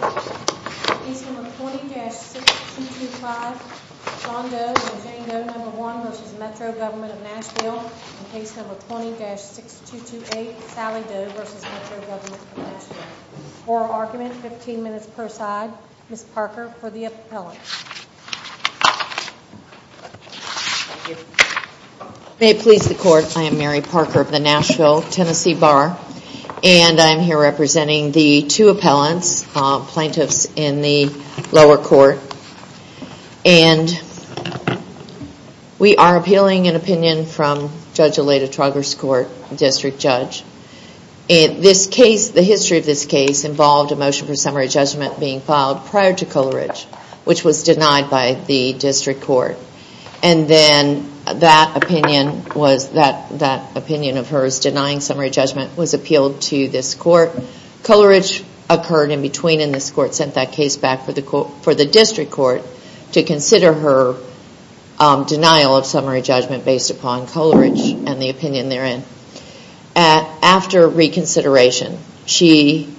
Case No. 20-6225, John Doe v. Jane Doe, No. 1 v. Metro Govt of Nashville Case No. 20-6228, Sally Doe v. Metro Govt of Nashville Oral Argument, 15 minutes per side Ms. Parker for the Appellant May it please the Court, I am Mary Parker of the Nashville, Tennessee Bar and I am here representing the two appellants, plaintiffs in the lower court and we are appealing an opinion from Judge Aleda Trugger's court, District Judge The history of this case involved a motion for summary judgment being filed prior to Coleridge which was denied by the District Court and then that opinion of hers denying summary judgment was appealed to this court Coleridge occurred in between and this court sent that case back for the District Court to consider her denial of summary judgment based upon Coleridge and the opinion therein After reconsideration, she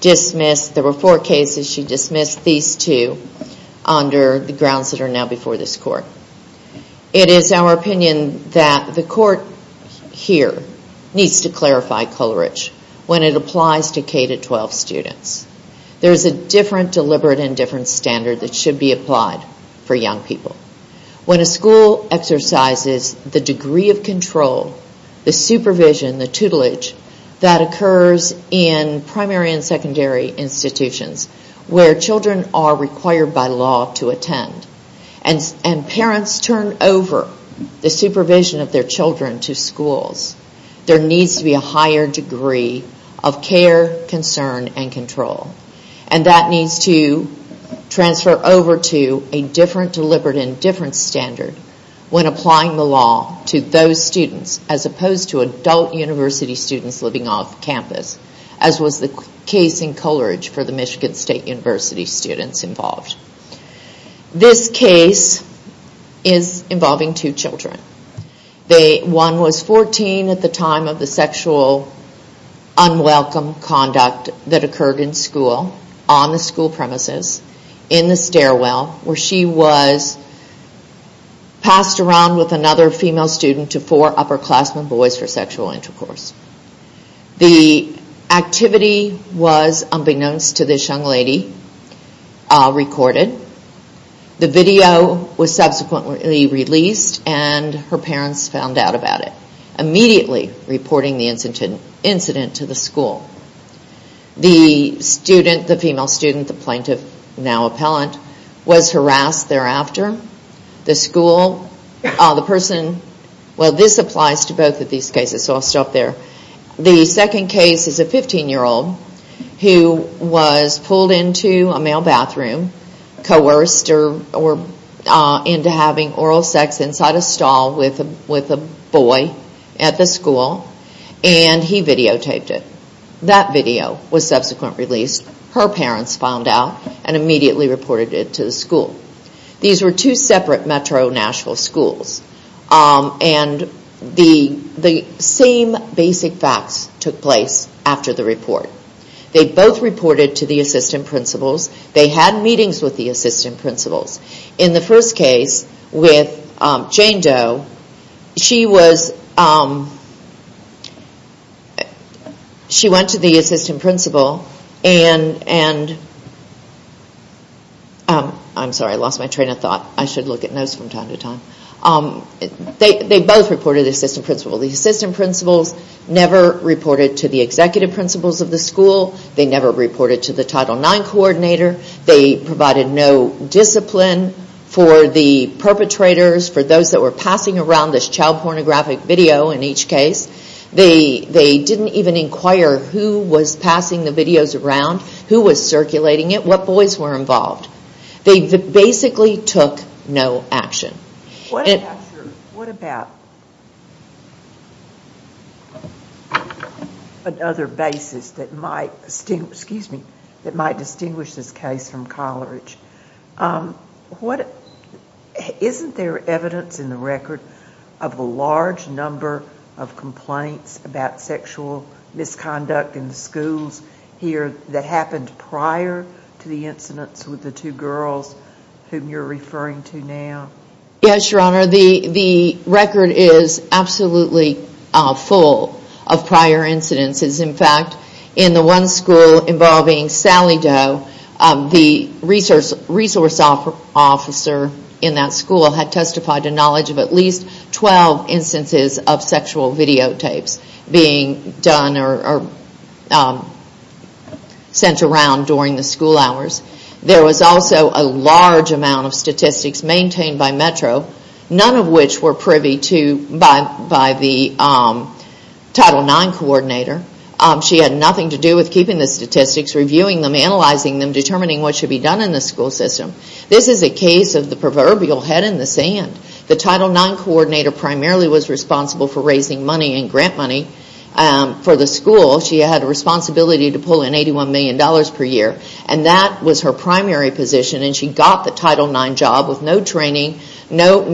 dismissed, there were four cases, she dismissed these two under the grounds that are now before this court It is our opinion that the court here needs to clarify Coleridge when it applies to K-12 students There is a different deliberate and different standard that should be applied for young people When a school exercises the degree of control, the supervision, the tutelage that occurs in primary and secondary institutions where children are required by law to attend and parents turn over the supervision of their children to schools There needs to be a higher degree of care, concern and control and that needs to transfer over to a different deliberate and different standard when applying the law to those students as opposed to adult university students living off campus as was the case in Coleridge for the Michigan State University students involved This case is involving two children One was 14 at the time of the sexual unwelcome conduct that occurred in school on the school premises, in the stairwell where she was passed around with another female student to four upperclassmen boys for sexual intercourse The activity was unbeknownst to this young lady recorded The video was subsequently released and her parents found out about it immediately reporting the incident to the school The female student, the plaintiff, now appellant, was harassed thereafter The school, the person, well this applies to both of these cases so I'll stop there The second case is a 15 year old who was pulled into a male bathroom coerced into having oral sex inside a stall with a boy at the school and he videotaped it. That video was subsequently released Her parents found out and immediately reported it to the school These were two separate metro Nashville schools and the same basic facts took place after the report They both reported to the assistant principals They had meetings with the assistant principals In the first case with Jane Doe, she went to the assistant principal and they both reported to the assistant principal The assistant principals never reported to the executive principals of the school They never reported to the Title IX coordinator They provided no discipline for the perpetrators for those that were passing around this child pornographic video in each case They didn't even inquire who was passing the videos around who was circulating it, what boys were involved They basically took no action What about another basis that might distinguish this case from collerage? Isn't there evidence in the record of a large number of complaints about sexual misconduct in the schools here that happened prior to the incidents with the two girls whom you are referring to now? Yes, Your Honor, the record is absolutely full of prior incidents In fact, in the one school involving Sally Doe the resource officer in that school had testified to knowledge of at least 12 instances of sexual videotapes being done or sent around during the school hours There was also a large amount of statistics maintained by Metro none of which were privy by the Title IX coordinator She had nothing to do with keeping the statistics reviewing them, analyzing them, determining what should be done in the school system This is a case of the proverbial head in the sand The Title IX coordinator primarily was responsible for raising money and grant money for the school. She had a responsibility to pull in $81 million per year and that was her primary position and she got the Title IX job with no training no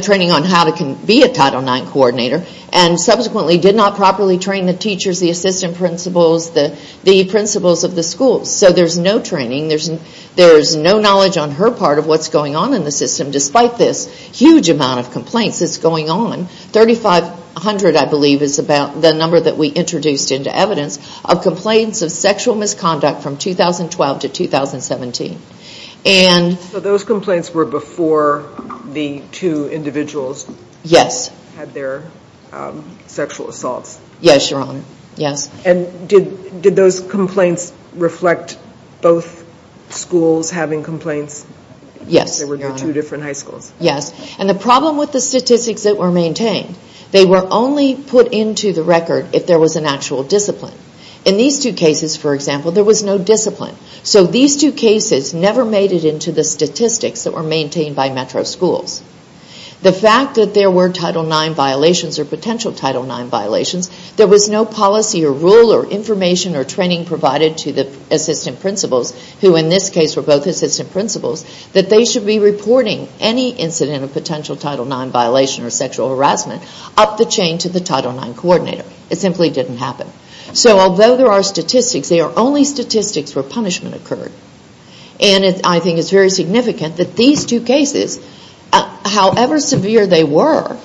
training on how to be a Title IX coordinator and subsequently did not properly train the teachers, the assistant principals the principals of the schools So there's no training, there's no knowledge on her part of what's going on in the system despite this huge amount of complaints that's going on 3,500 I believe is the number that we introduced into evidence of complaints of sexual misconduct from 2012 to 2017 So those complaints were before the two individuals had their sexual assaults? Yes, Your Honor And did those complaints reflect both schools having complaints? Yes, Your Honor There were two different high schools Yes, and the problem with the statistics that were maintained they were only put into the record if there was an actual discipline In these two cases, for example, there was no discipline So these two cases never made it into the statistics that were maintained by metro schools The fact that there were Title IX violations or potential Title IX violations there was no policy or rule or information or training provided to the assistant principals who in this case were both assistant principals that they should be reporting any incident of potential Title IX violation or sexual harassment up the chain to the Title IX coordinator It simply didn't happen So although there are statistics they are only statistics where punishment occurred And I think it's very significant that these two cases however severe they were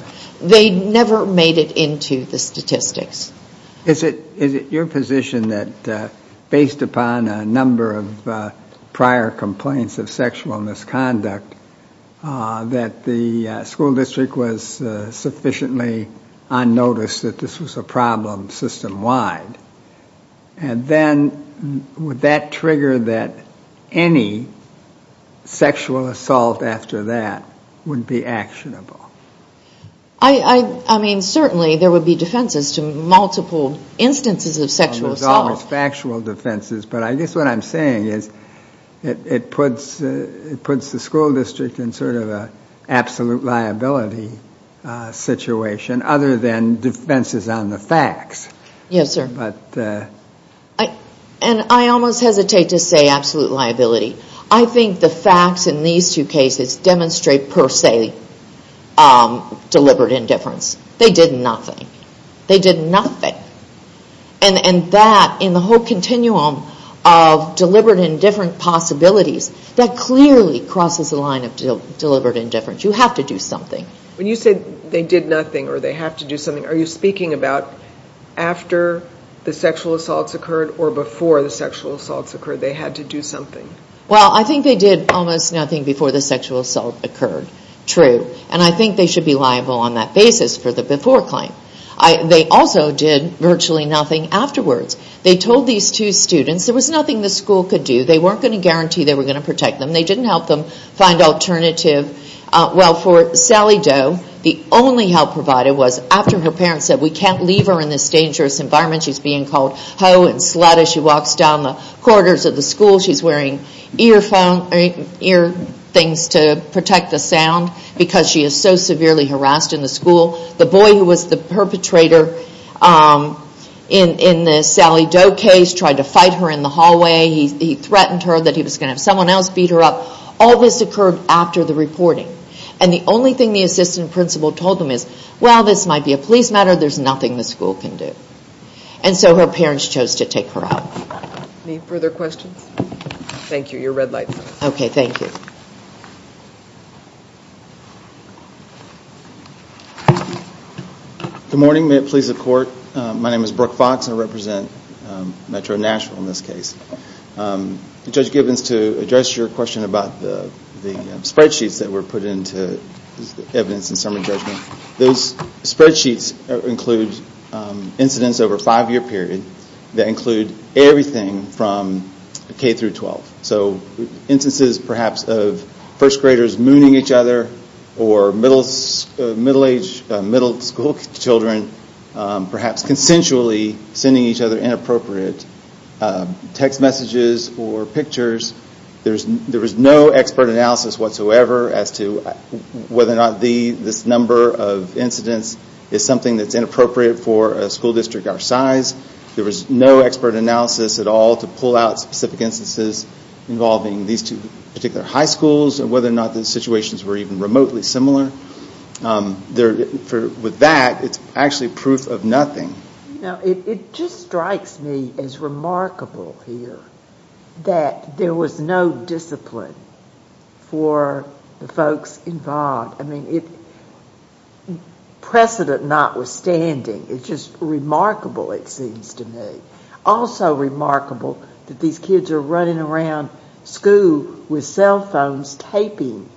they never made it into the statistics Is it your position that based upon a number of prior complaints of sexual misconduct that the school district was sufficiently unnoticed that this was a problem system-wide? And then would that trigger that any sexual assault after that would be actionable? I mean, certainly there would be defenses to multiple instances of sexual assault There's always factual defenses But I guess what I'm saying is it puts the school district in sort of an absolute liability situation other than defenses on the facts Yes, sir And I almost hesitate to say absolute liability I think the facts in these two cases demonstrate per se deliberate indifference They did nothing They did nothing And that, in the whole continuum of deliberate indifference possibilities that clearly crosses the line of deliberate indifference You have to do something When you say they did nothing or they have to do something are you speaking about after the sexual assaults occurred or before the sexual assaults occurred? They had to do something Well, I think they did almost nothing before the sexual assault occurred True And I think they should be liable on that basis for the before claim They also did virtually nothing afterwards They told these two students there was nothing the school could do They weren't going to guarantee they were going to protect them They didn't help them find alternatives Well, for Sally Doe the only help provided was after her parents said we can't leave her in this dangerous environment she's being called hoe and slut as she walks down the corridors of the school she's wearing ear things to protect the sound because she is so severely harassed in the school The boy who was the perpetrator in the Sally Doe case tried to fight her in the hallway He threatened her that he was going to have someone else beat her up All this occurred after the reporting And the only thing the assistant principal told them is well, this might be a police matter there's nothing the school can do And so her parents chose to take her out Any further questions? Thank you, your red light Okay, thank you Good morning, may it please the court My name is Brooke Fox I represent Metro Nashville in this case Judge Gibbons, to address your question about the spreadsheets that were put into evidence in summary judgment Those spreadsheets include incidents over a five year period that include everything from K through 12 So instances perhaps of first graders mooning each other or middle school children perhaps consensually sending each other inappropriate text messages or pictures There was no expert analysis whatsoever as to whether or not this number of incidents is something that's inappropriate for a school district our size There was no expert analysis at all to pull out specific instances involving these two particular high schools and whether or not the situations were even remotely similar With that, it's actually proof of nothing It just strikes me as remarkable here that there was no discipline for the folks involved I mean, precedent notwithstanding it's just remarkable it seems to me Also remarkable that these kids are running around school with cell phones taping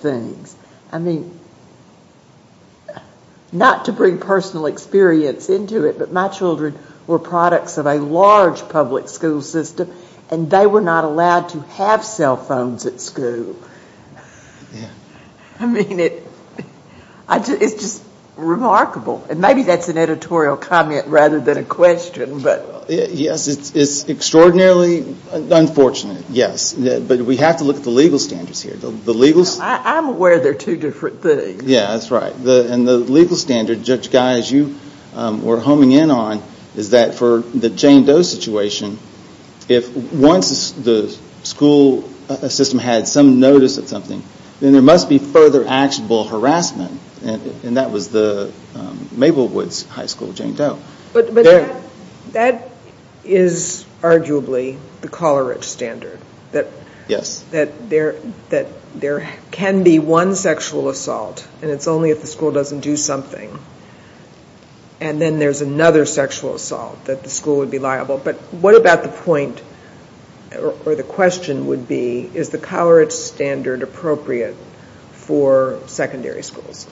things I mean, not to bring personal experience into it but my children were products of a large public school system and they were not allowed to have cell phones at school I mean, it's just remarkable Maybe that's an editorial comment rather than a question Yes, it's extraordinarily unfortunate but we have to look at the legal standards here I'm aware they're two different things Yeah, that's right And the legal standard, Judge Guy, as you were homing in on is that for the Jane Doe situation if once the school system had some notice of something then there must be further actionable harassment and that was the Maple Woods High School Jane Doe But that is arguably the Coleridge standard that there can be one sexual assault and it's only if the school doesn't do something and then there's another sexual assault that the school would be liable But what about the point, or the question would be is the Coleridge standard appropriate for secondary schools?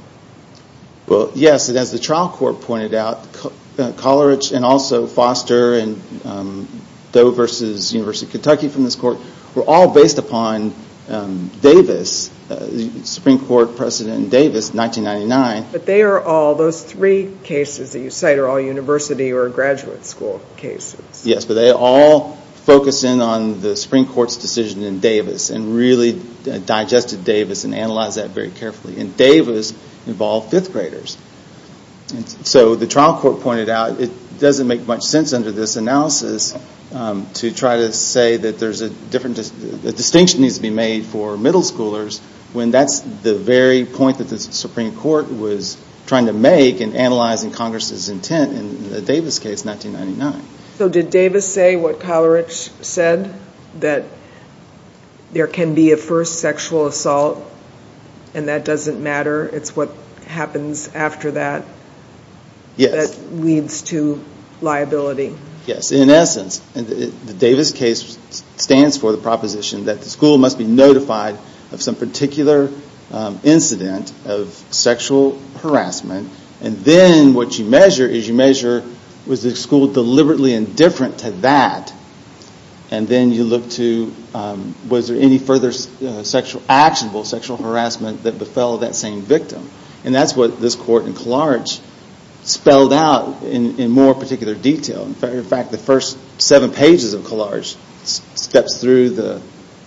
Well, yes, and as the trial court pointed out Coleridge and also Foster and Doe v. University of Kentucky from this court were all based upon Davis the Supreme Court precedent in Davis in 1999 But they are all, those three cases that you cite are all university or graduate school cases Yes, but they all focus in on the Supreme Court's decision in Davis and really digested Davis and analyzed that very carefully And Davis involved fifth graders So the trial court pointed out it doesn't make much sense under this analysis to try to say that there's a different a distinction needs to be made for middle schoolers when that's the very point that the Supreme Court was trying to make in analyzing Congress's intent in the Davis case in 1999 So did Davis say what Coleridge said? That there can be a first sexual assault and that doesn't matter? It's what happens after that that leads to liability Yes, in essence, the Davis case stands for the proposition that the school must be notified of some particular incident of sexual harassment and then what you measure is you measure was the school deliberately indifferent to that and then you look to was there any further actionable sexual harassment that befell that same victim And that's what this court in Coleridge spelled out in more particular detail In fact, the first seven pages of Coleridge steps through the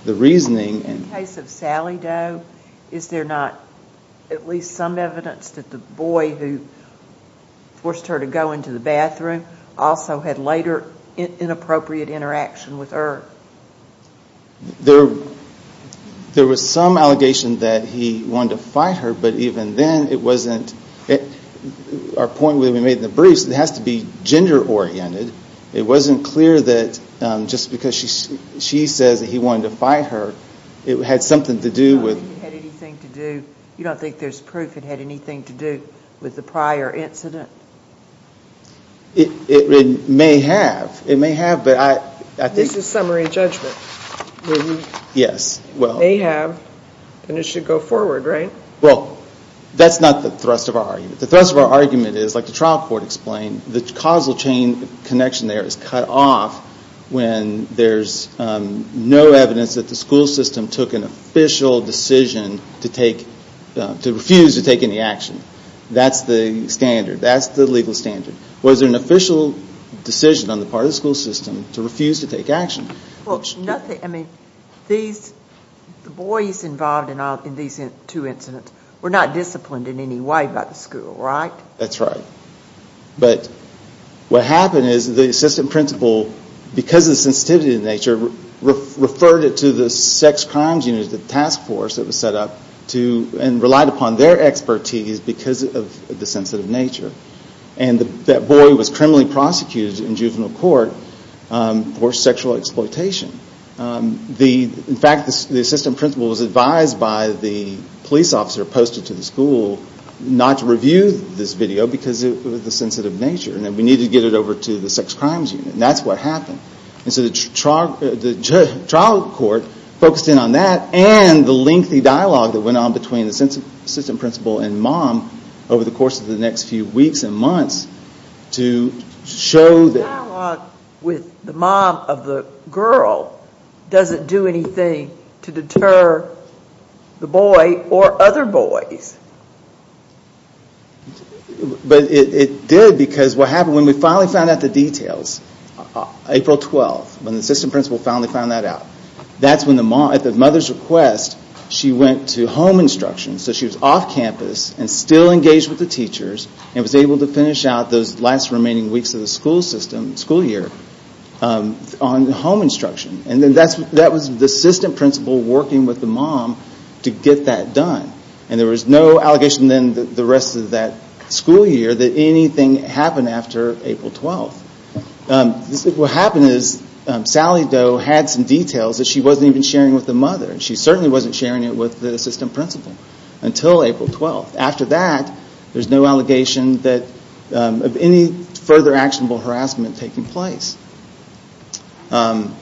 reasoning In the case of Sally Doe, is there not forced her to go into the bathroom also had later inappropriate interaction with her There was some allegation that he wanted to fight her but even then it wasn't Our point when we made the briefs it has to be gender oriented It wasn't clear that just because she says that he wanted to fight her it had something to do with You don't think there's proof it had anything to do with the prior incident? It may have This is summary judgment Yes It may have, but it should go forward, right? Well, that's not the thrust of our argument The thrust of our argument is, like the trial court explained the causal chain connection there is cut off when there's no evidence that the school system took an official decision to refuse to take any action That's the standard, that's the legal standard Was there an official decision on the part of the school system to refuse to take action? The boys involved in these two incidents were not disciplined in any way by the school, right? That's right But what happened is the assistant principal because of the sensitivity to nature referred it to the sex crimes unit, the task force that was set up and relied upon their expertise because of the sensitive nature and that boy was criminally prosecuted in juvenile court for sexual exploitation In fact, the assistant principal was advised by the police officer posted to the school not to review this video because of the sensitive nature and that we needed to get it over to the sex crimes unit and that's what happened So the trial court focused in on that and the lengthy dialogue that went on between the assistant principal and mom over the course of the next few weeks and months to show that... The dialogue with the mom of the girl doesn't do anything to deter the boy or other boys But it did because what happened when we finally found out the details April 12th, when the assistant principal finally found that out at the mother's request, she went to home instruction so she was off campus and still engaged with the teachers and was able to finish out those last remaining weeks of the school year on home instruction and that was the assistant principal working with the mom to get that done and there was no allegation then the rest of that school year that anything happened after April 12th What happened was Sally Doe had some details that she wasn't even sharing with the mother and she certainly wasn't sharing it with the assistant principal until April 12th After that, there's no allegation of any further actionable harassment taking place Like I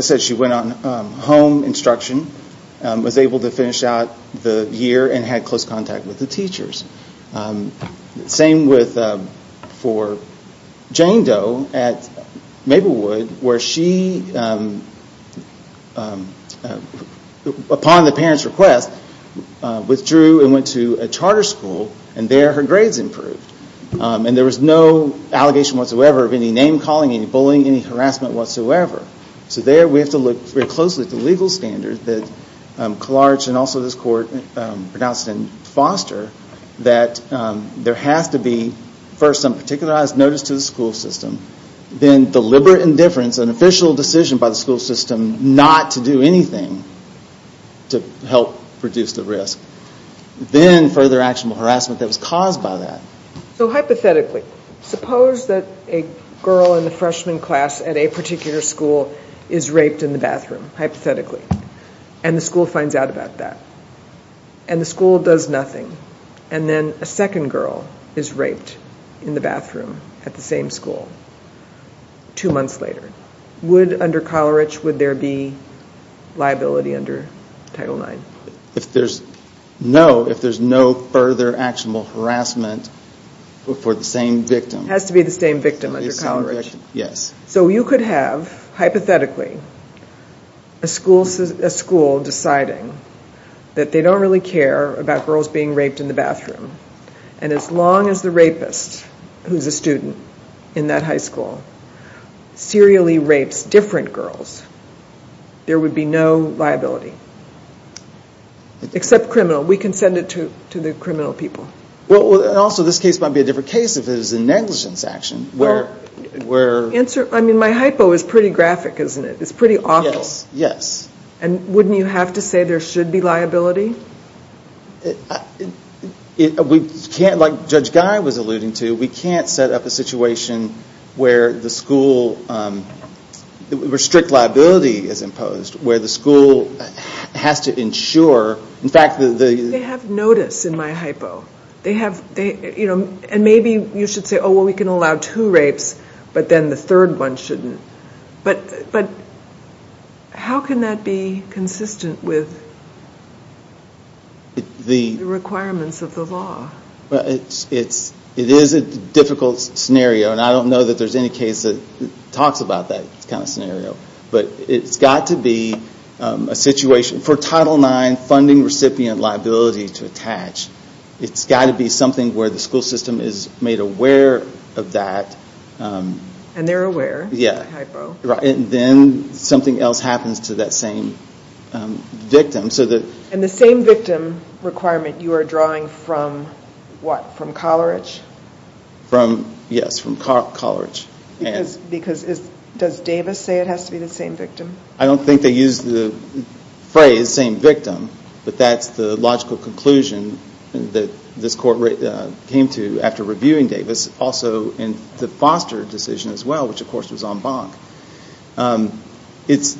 said, she went on home instruction was able to finish out the year and had close contact with the teachers Same for Jane Doe at Maplewood where she, upon the parent's request withdrew and went to a charter school and there her grades improved and there was no allegation whatsoever of any name calling, any bullying, any harassment whatsoever So there we have to look very closely at the legal standards that Clark and also this court pronounced in Foster that there has to be first some particularized notice to the school system then deliberate indifference an official decision by the school system not to do anything to help reduce the risk then further actionable harassment that was caused by that So hypothetically suppose that a girl in the freshman class at a particular school is raped in the bathroom, hypothetically and the school finds out about that and the school does nothing and then a second girl is raped in the bathroom at the same school two months later Would, under Coleridge, would there be liability under Title IX? No, if there's no further actionable harassment for the same victim Has to be the same victim under Coleridge Yes So you could have, hypothetically a school deciding that they don't really care about girls being raped in the bathroom and as long as the rapist who's a student in that high school serially rapes different girls there would be no liability except criminal We can send it to the criminal people And also this case might be a different case if it was a negligence action My hypo is pretty graphic, isn't it? It's pretty awful Yes And wouldn't you have to say there should be liability? We can't, like Judge Guy was alluding to We can't set up a situation where the school where strict liability is imposed where the school has to ensure In fact They have notice in my hypo They have And maybe you should say Oh, we can allow two rapes But then the third one shouldn't But How can that be consistent with the requirements of the law? It is a difficult scenario And I don't know that there's any case that talks about that kind of scenario But it's got to be a situation For Title IX funding recipient liability to attach It's got to be something where the school system is made aware of that And they're aware Yeah And then something else happens to that same victim And the same victim requirement you are drawing from what? From Coleridge? Yes, from Coleridge Because Does Davis say it has to be the same victim? I don't think they use the phrase same victim But that's the logical conclusion that this court came to after reviewing Davis Also in the Foster decision as well which of course was en banc It's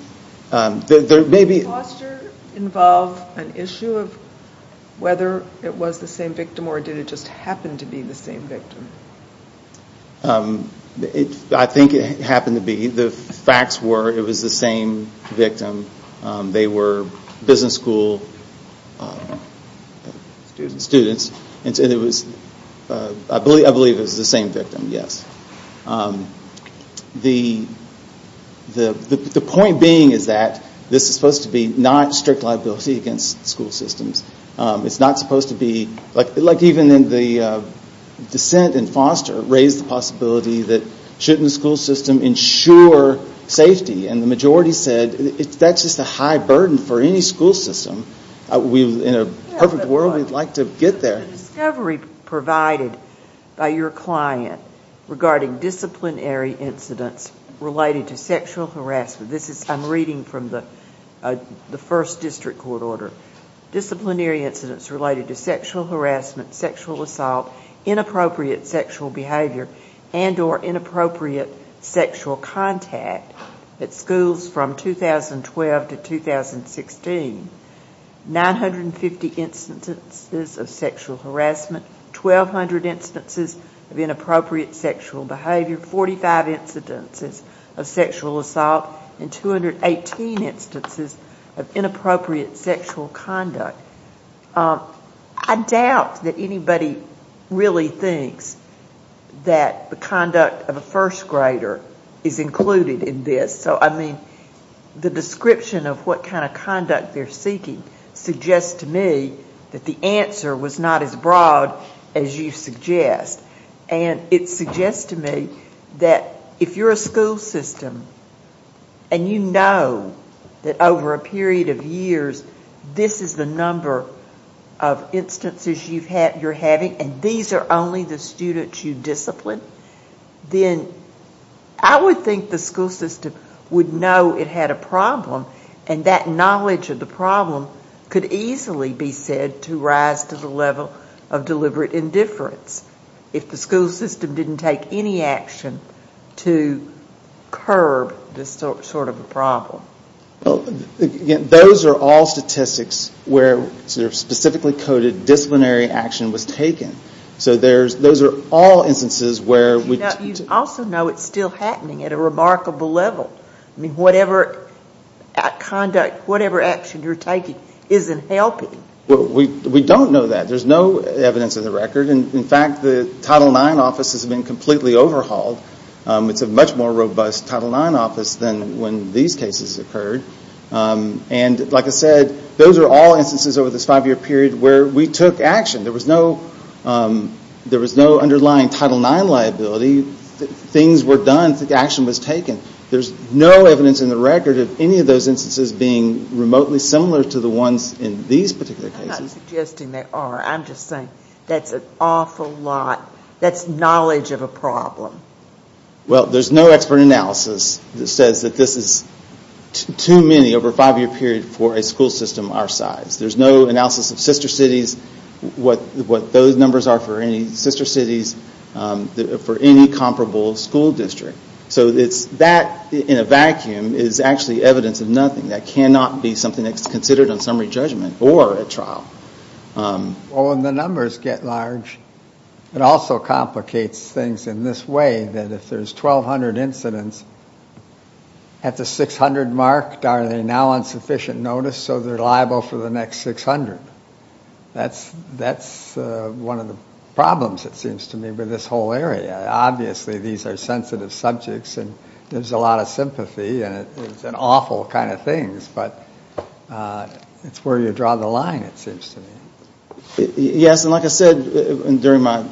There may be Did Foster involve an issue of whether it was the same victim or did it just happen to be the same victim? I think it happened to be The facts were it was the same victim They were business school students I believe it was the same victim, yes The point being is that this is supposed to be not strict liability against school systems It's not supposed to be Like even in the dissent in Foster raised the possibility that shouldn't the school system ensure safety? And the majority said that's just a high burden for any school system In a perfect world we'd like to get there The discovery provided by your client regarding disciplinary incidents related to sexual harassment I'm reading from the the first district court order Disciplinary incidents related to sexual harassment, sexual assault inappropriate sexual behavior and or inappropriate sexual contact at schools from 2012 to 2016 950 instances of sexual harassment 1200 instances of inappropriate sexual behavior 45 incidences of sexual assault and 218 instances of inappropriate sexual conduct I doubt that anybody really thinks that the conduct of a first grader is included in this So I mean the description of what kind of conduct they're seeking suggests to me that the answer was not as broad as you suggest and it suggests to me that if you're a school system and you know that over a period of years this is the number of instances you're having and these are only the students you discipline then I would think the school system would know it had a problem and that knowledge of the problem could easily be said to rise to the level of deliberate indifference if the school system didn't take any action to curb this sort of problem Those are all statistics where specifically coded disciplinary action was taken So those are all instances where You also know it's still happening at a remarkable level Whatever action you're taking isn't helping We don't know that There's no evidence of the record In fact the Title IX office has been completely overhauled It's a much more robust Title IX office than when these cases occurred And like I said those are all instances over this five year period where we took action There was no underlying Title IX liability Things were done Action was taken There's no evidence in the record of any of those instances being remotely similar to the ones in these particular cases I'm not suggesting they are I'm just saying that's an awful lot That's knowledge of a problem Well there's no expert analysis that says that this is too many over a five year period for a school system our size There's no analysis of sister cities what those numbers are for any sister cities for any comparable school district So that in a vacuum is actually evidence of nothing That cannot be something that's considered a summary judgment or a trial When the numbers get large it also complicates things in this way that if there's 1,200 incidents at the 600 mark are they now on sufficient notice so they're liable for the next 600 That's one of the problems it seems to me with this whole area Obviously these are sensitive subjects and there's a lot of sympathy and it's an awful kind of thing but it's where you draw the line it seems to me Yes and like I said during my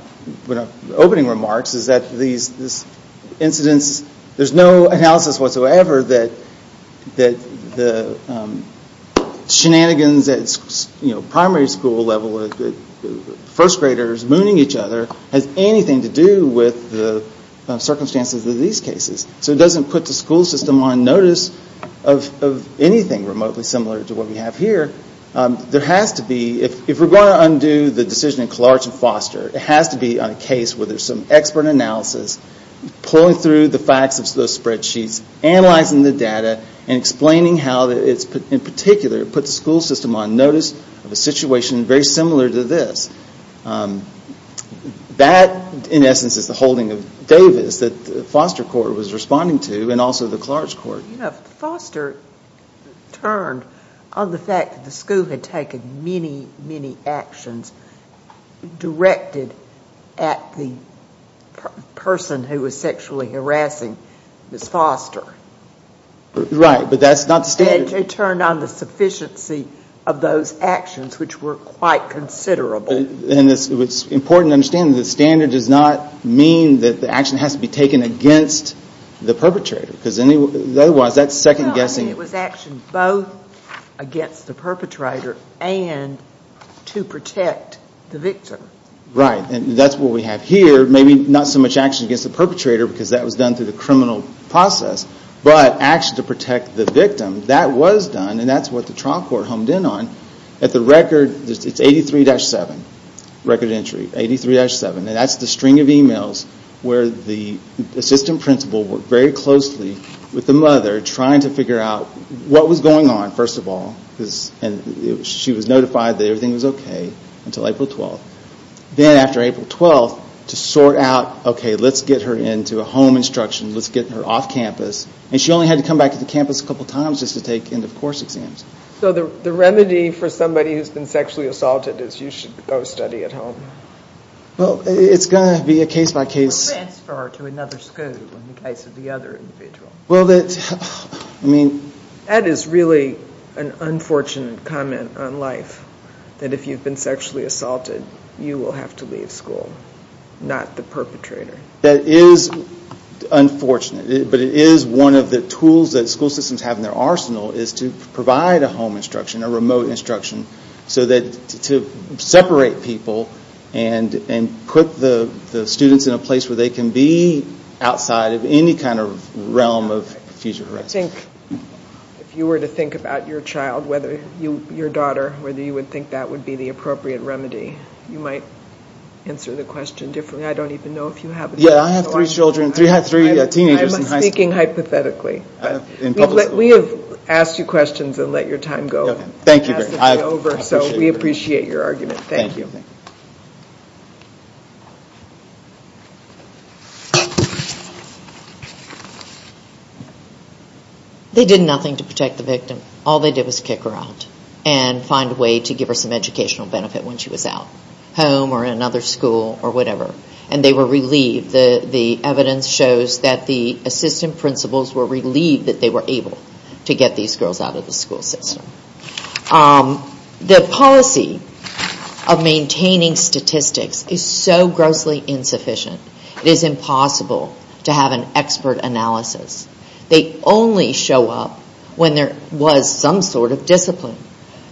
opening remarks is that these incidents there's no analysis whatsoever that the shenanigans at primary school level first graders mooning each other has anything to do with the circumstances of these cases So it doesn't put the school system on notice of anything remotely similar to what we have here There has to be if we're going to undo the decision in Collage and Foster it has to be on a case where there's some expert analysis pulling through the facts of those spreadsheets analyzing the data and explaining how in particular it puts the school system on notice of a situation very similar to this That in essence is the holding of Davis that the Foster court was responding to and also the Collage court Foster turned on the fact that the school had taken many many actions directed at the person who was sexually harassing Ms. Foster Right but that's not the standard JJ turned on the sufficiency of those actions which were quite considerable It's important to understand the standard does not mean that the action has to be taken against the perpetrator because otherwise that's second guessing It was action both against the perpetrator and to protect the victim Right and that's what we have here maybe not so much action against the perpetrator because that was done through the criminal process but action to protect the victim That was done and that's what the trial court honed in on At the record it's 83-7 record entry 83-7 and that's the string of emails where the assistant principal worked very closely with the mother trying to figure out what was going on first of all and she was notified that everything was ok until April 12th Then after April 12th to sort out ok let's get her into a home instruction let's get her off campus and she only had to come back to the campus a couple of times just to take end of course exams So the remedy for somebody who's been sexually assaulted is you should go study at home Well it's going to be a case by case Or transfer to another school in the case of the other individual Well that's I mean That is really an unfortunate comment on life that if you've been sexually assaulted you will have to leave school not the perpetrator That is unfortunate but it is one of the tools that school systems have in their arsenal is to provide a home instruction a remote instruction so that to separate people and put the students in a place where they can be outside of any kind of realm of future harassment I think if you were to think about your child whether you your daughter whether you would think that would be the appropriate remedy you might answer the question differently I don't even know if you have Yeah I have three children I have three teenagers I'm speaking hypothetically We have asked you questions and let your time go Thank you very much So we appreciate your argument Thank you They did nothing to protect the victim All they did was kick her out and find a way to give her some educational benefit when she was out home or another school or whatever and they were relieved the evidence shows that the assistant principals were relieved that they were able to get these girls out of the school system The policy of maintaining statistics is so grossly insufficient It is impossible to have an expert analysis They only show up when there was some sort of discipline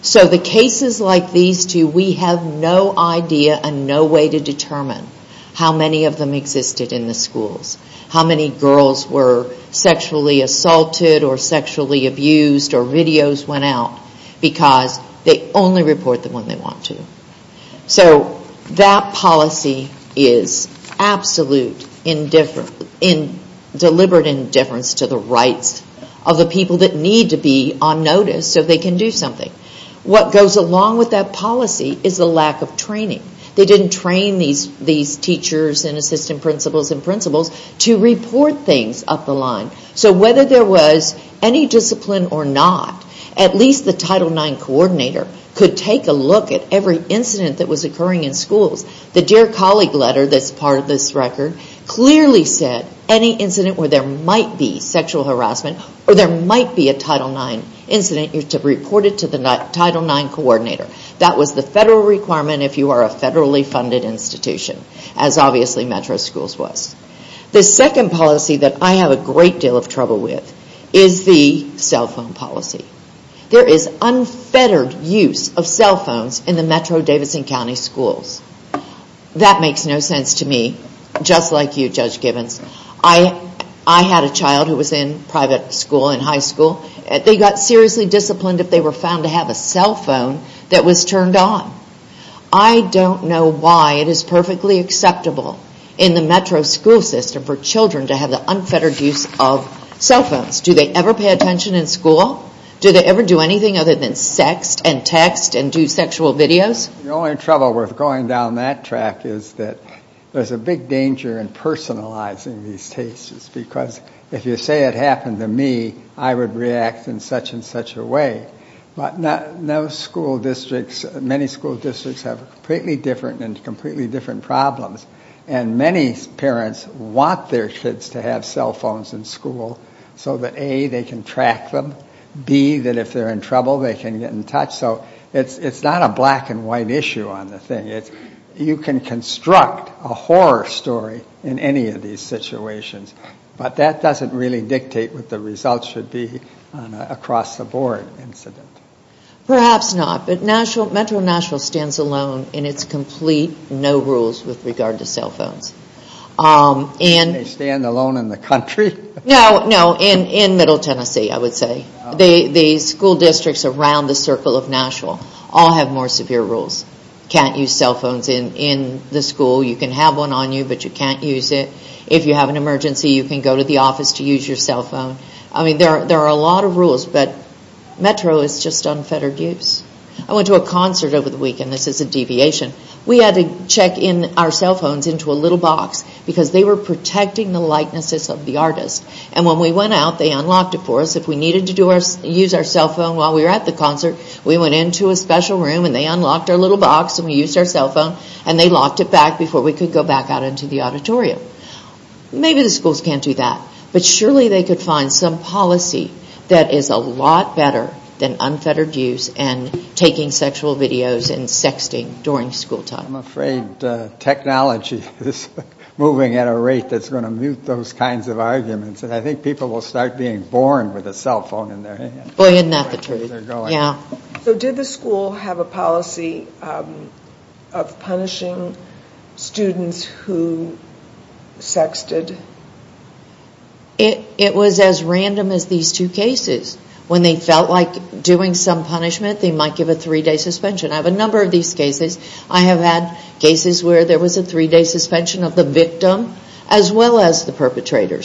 So the cases like these two we have no idea and no way to determine how many of them existed in the schools How many girls were sexually assaulted or sexually abused or videos went out because they only report them when they want to So that policy is absolute indifference deliberate indifference to the rights of the people that need to be on notice so they can do something What goes along with that policy is the lack of training They didn't train these teachers and assistant principals and principals to report things up the line So whether there was any discipline or not at least the Title IX coordinator could take a look at every incident that was occurring in schools The Dear Colleague letter that's part of this record clearly said any incident where there might be sexual harassment or there might be a Title IX incident you have to report it to the Title IX coordinator That was the federal requirement if you are a federally funded institution as obviously Metro Schools was The second policy that I have a great deal of trouble with is the cell phone policy There is unfettered use of cell phones in the Metro Davidson County schools That makes no sense to me just like you Judge Gibbons I had a child who was in private school in high school and they got seriously disciplined if they were found to have a cell phone that was turned on I don't know why it is perfectly acceptable in the Metro school system for children to have the unfettered use of cell phones Do they ever pay attention in school? Do they ever do anything other than sext and text and do sexual videos? The only trouble with going down that track is that there is a big danger in personalizing these cases because if you say it happened to me I would react in such and such a way But no school districts many school districts have completely different and completely different problems and many parents want their kids to have cell phones in school so that A. they can track them B. that if they are in trouble they can get in touch so it is not a black and white issue on the thing You can construct a horror story in any of these situations but that doesn't really dictate what the results should be on an across the board incident Perhaps not but Metro Nashville stands alone in its complete no rules with regard to cell phones Can they stand alone in the country? No, no in middle Tennessee I would say The school districts around the circle of Nashville all have more severe rules Can't use cell phones in the school You can have one on you but you can't use it If you have an emergency you can go to the office to use your cell phone There are a lot of rules but Metro is just unfettered use I went to a concert over the weekend This is a deviation We had to check our cell phones into a little box because they were protecting the likenesses of the artist When we went out they unlocked it for us If we needed to use our cell phone while we were at the concert we went into a special room and they unlocked our little box and we used our cell phone and they locked it back before we could go back out into the auditorium Maybe the schools can't do that But surely they could find some policy that is a lot better than unfettered use and taking sexual videos and sexting during school time I'm afraid technology is moving at a rate that's going to mute those kinds of arguments I think people will start being born with a cell phone in their hands So did the school have a policy of punishing students who sexted? It was as random as these two cases when they felt like doing some punishment they might give a three-day suspension I have had cases where there was a three-day suspension of the victim as well as the perpetrator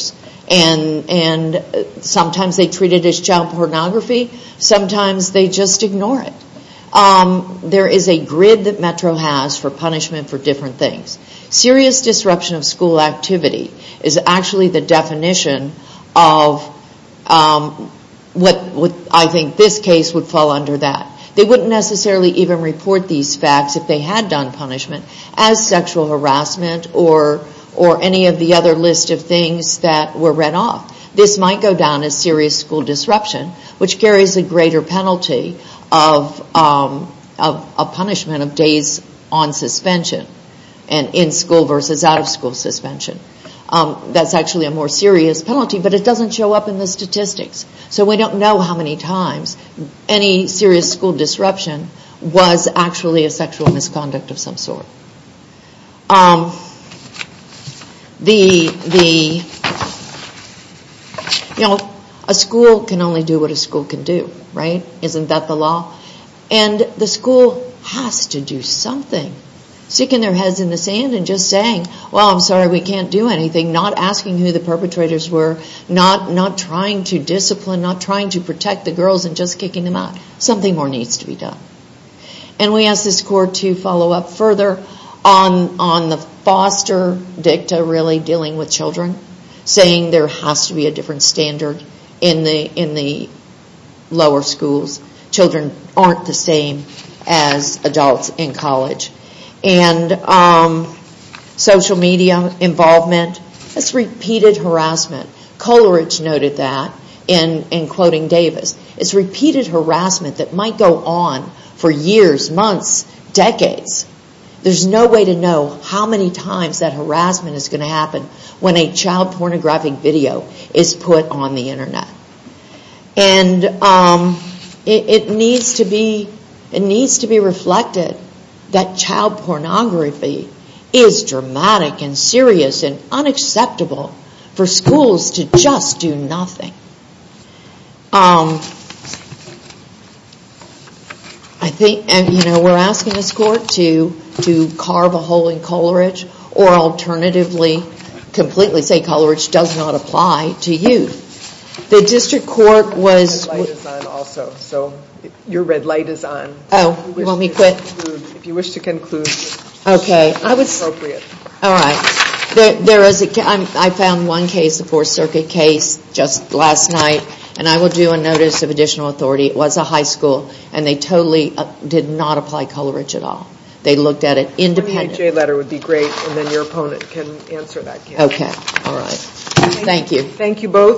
There is a grid that Metro has for punishment for different things Serious disruption of school activity is actually the definition of what I think this case would fall under that They wouldn't necessarily even report these facts if they had done punishment as sexual harassment or any of the other list of things that were read off This might go down as serious school disruption which carries a greater penalty of punishment of days on suspension in school versus out of school suspension actually a more serious penalty but it doesn't show up in the statistics We don't know how many times any serious school disruption was actually a sexual harassment or any of the other list of days on suspension in school versus out of school suspension actually a more serious penalty of days on suspension in school versus out of school It has to be a different standard in the lower schools Children aren't the same as adults in college Social media involvement It's repeated harassment Coleridge noted that in quoting Davis It's repeated harassment that might go on for years months decades There's no way to know how many times that is put on the internet It needs to be reflected that child pornography is dramatic and serious and unacceptable for schools to just do nothing We are asking this court to carve a hole in Coleridge or alternatively completely say Coleridge does not apply The district court was Your red light is on If you wish to conclude I found one case the Fourth Circuit case just last night and I will do a notice of additional authority It was a high school and they totally did not apply Coleridge at all They looked at it independently and they Coleridge does court was light is on If you one case the Fourth Circuit case just last night and I will do a notice of additional authority It was a high school and they totally did not night and I will do a notice of additional authority It was a high school and they totally did not apply Coleridge does court was light is on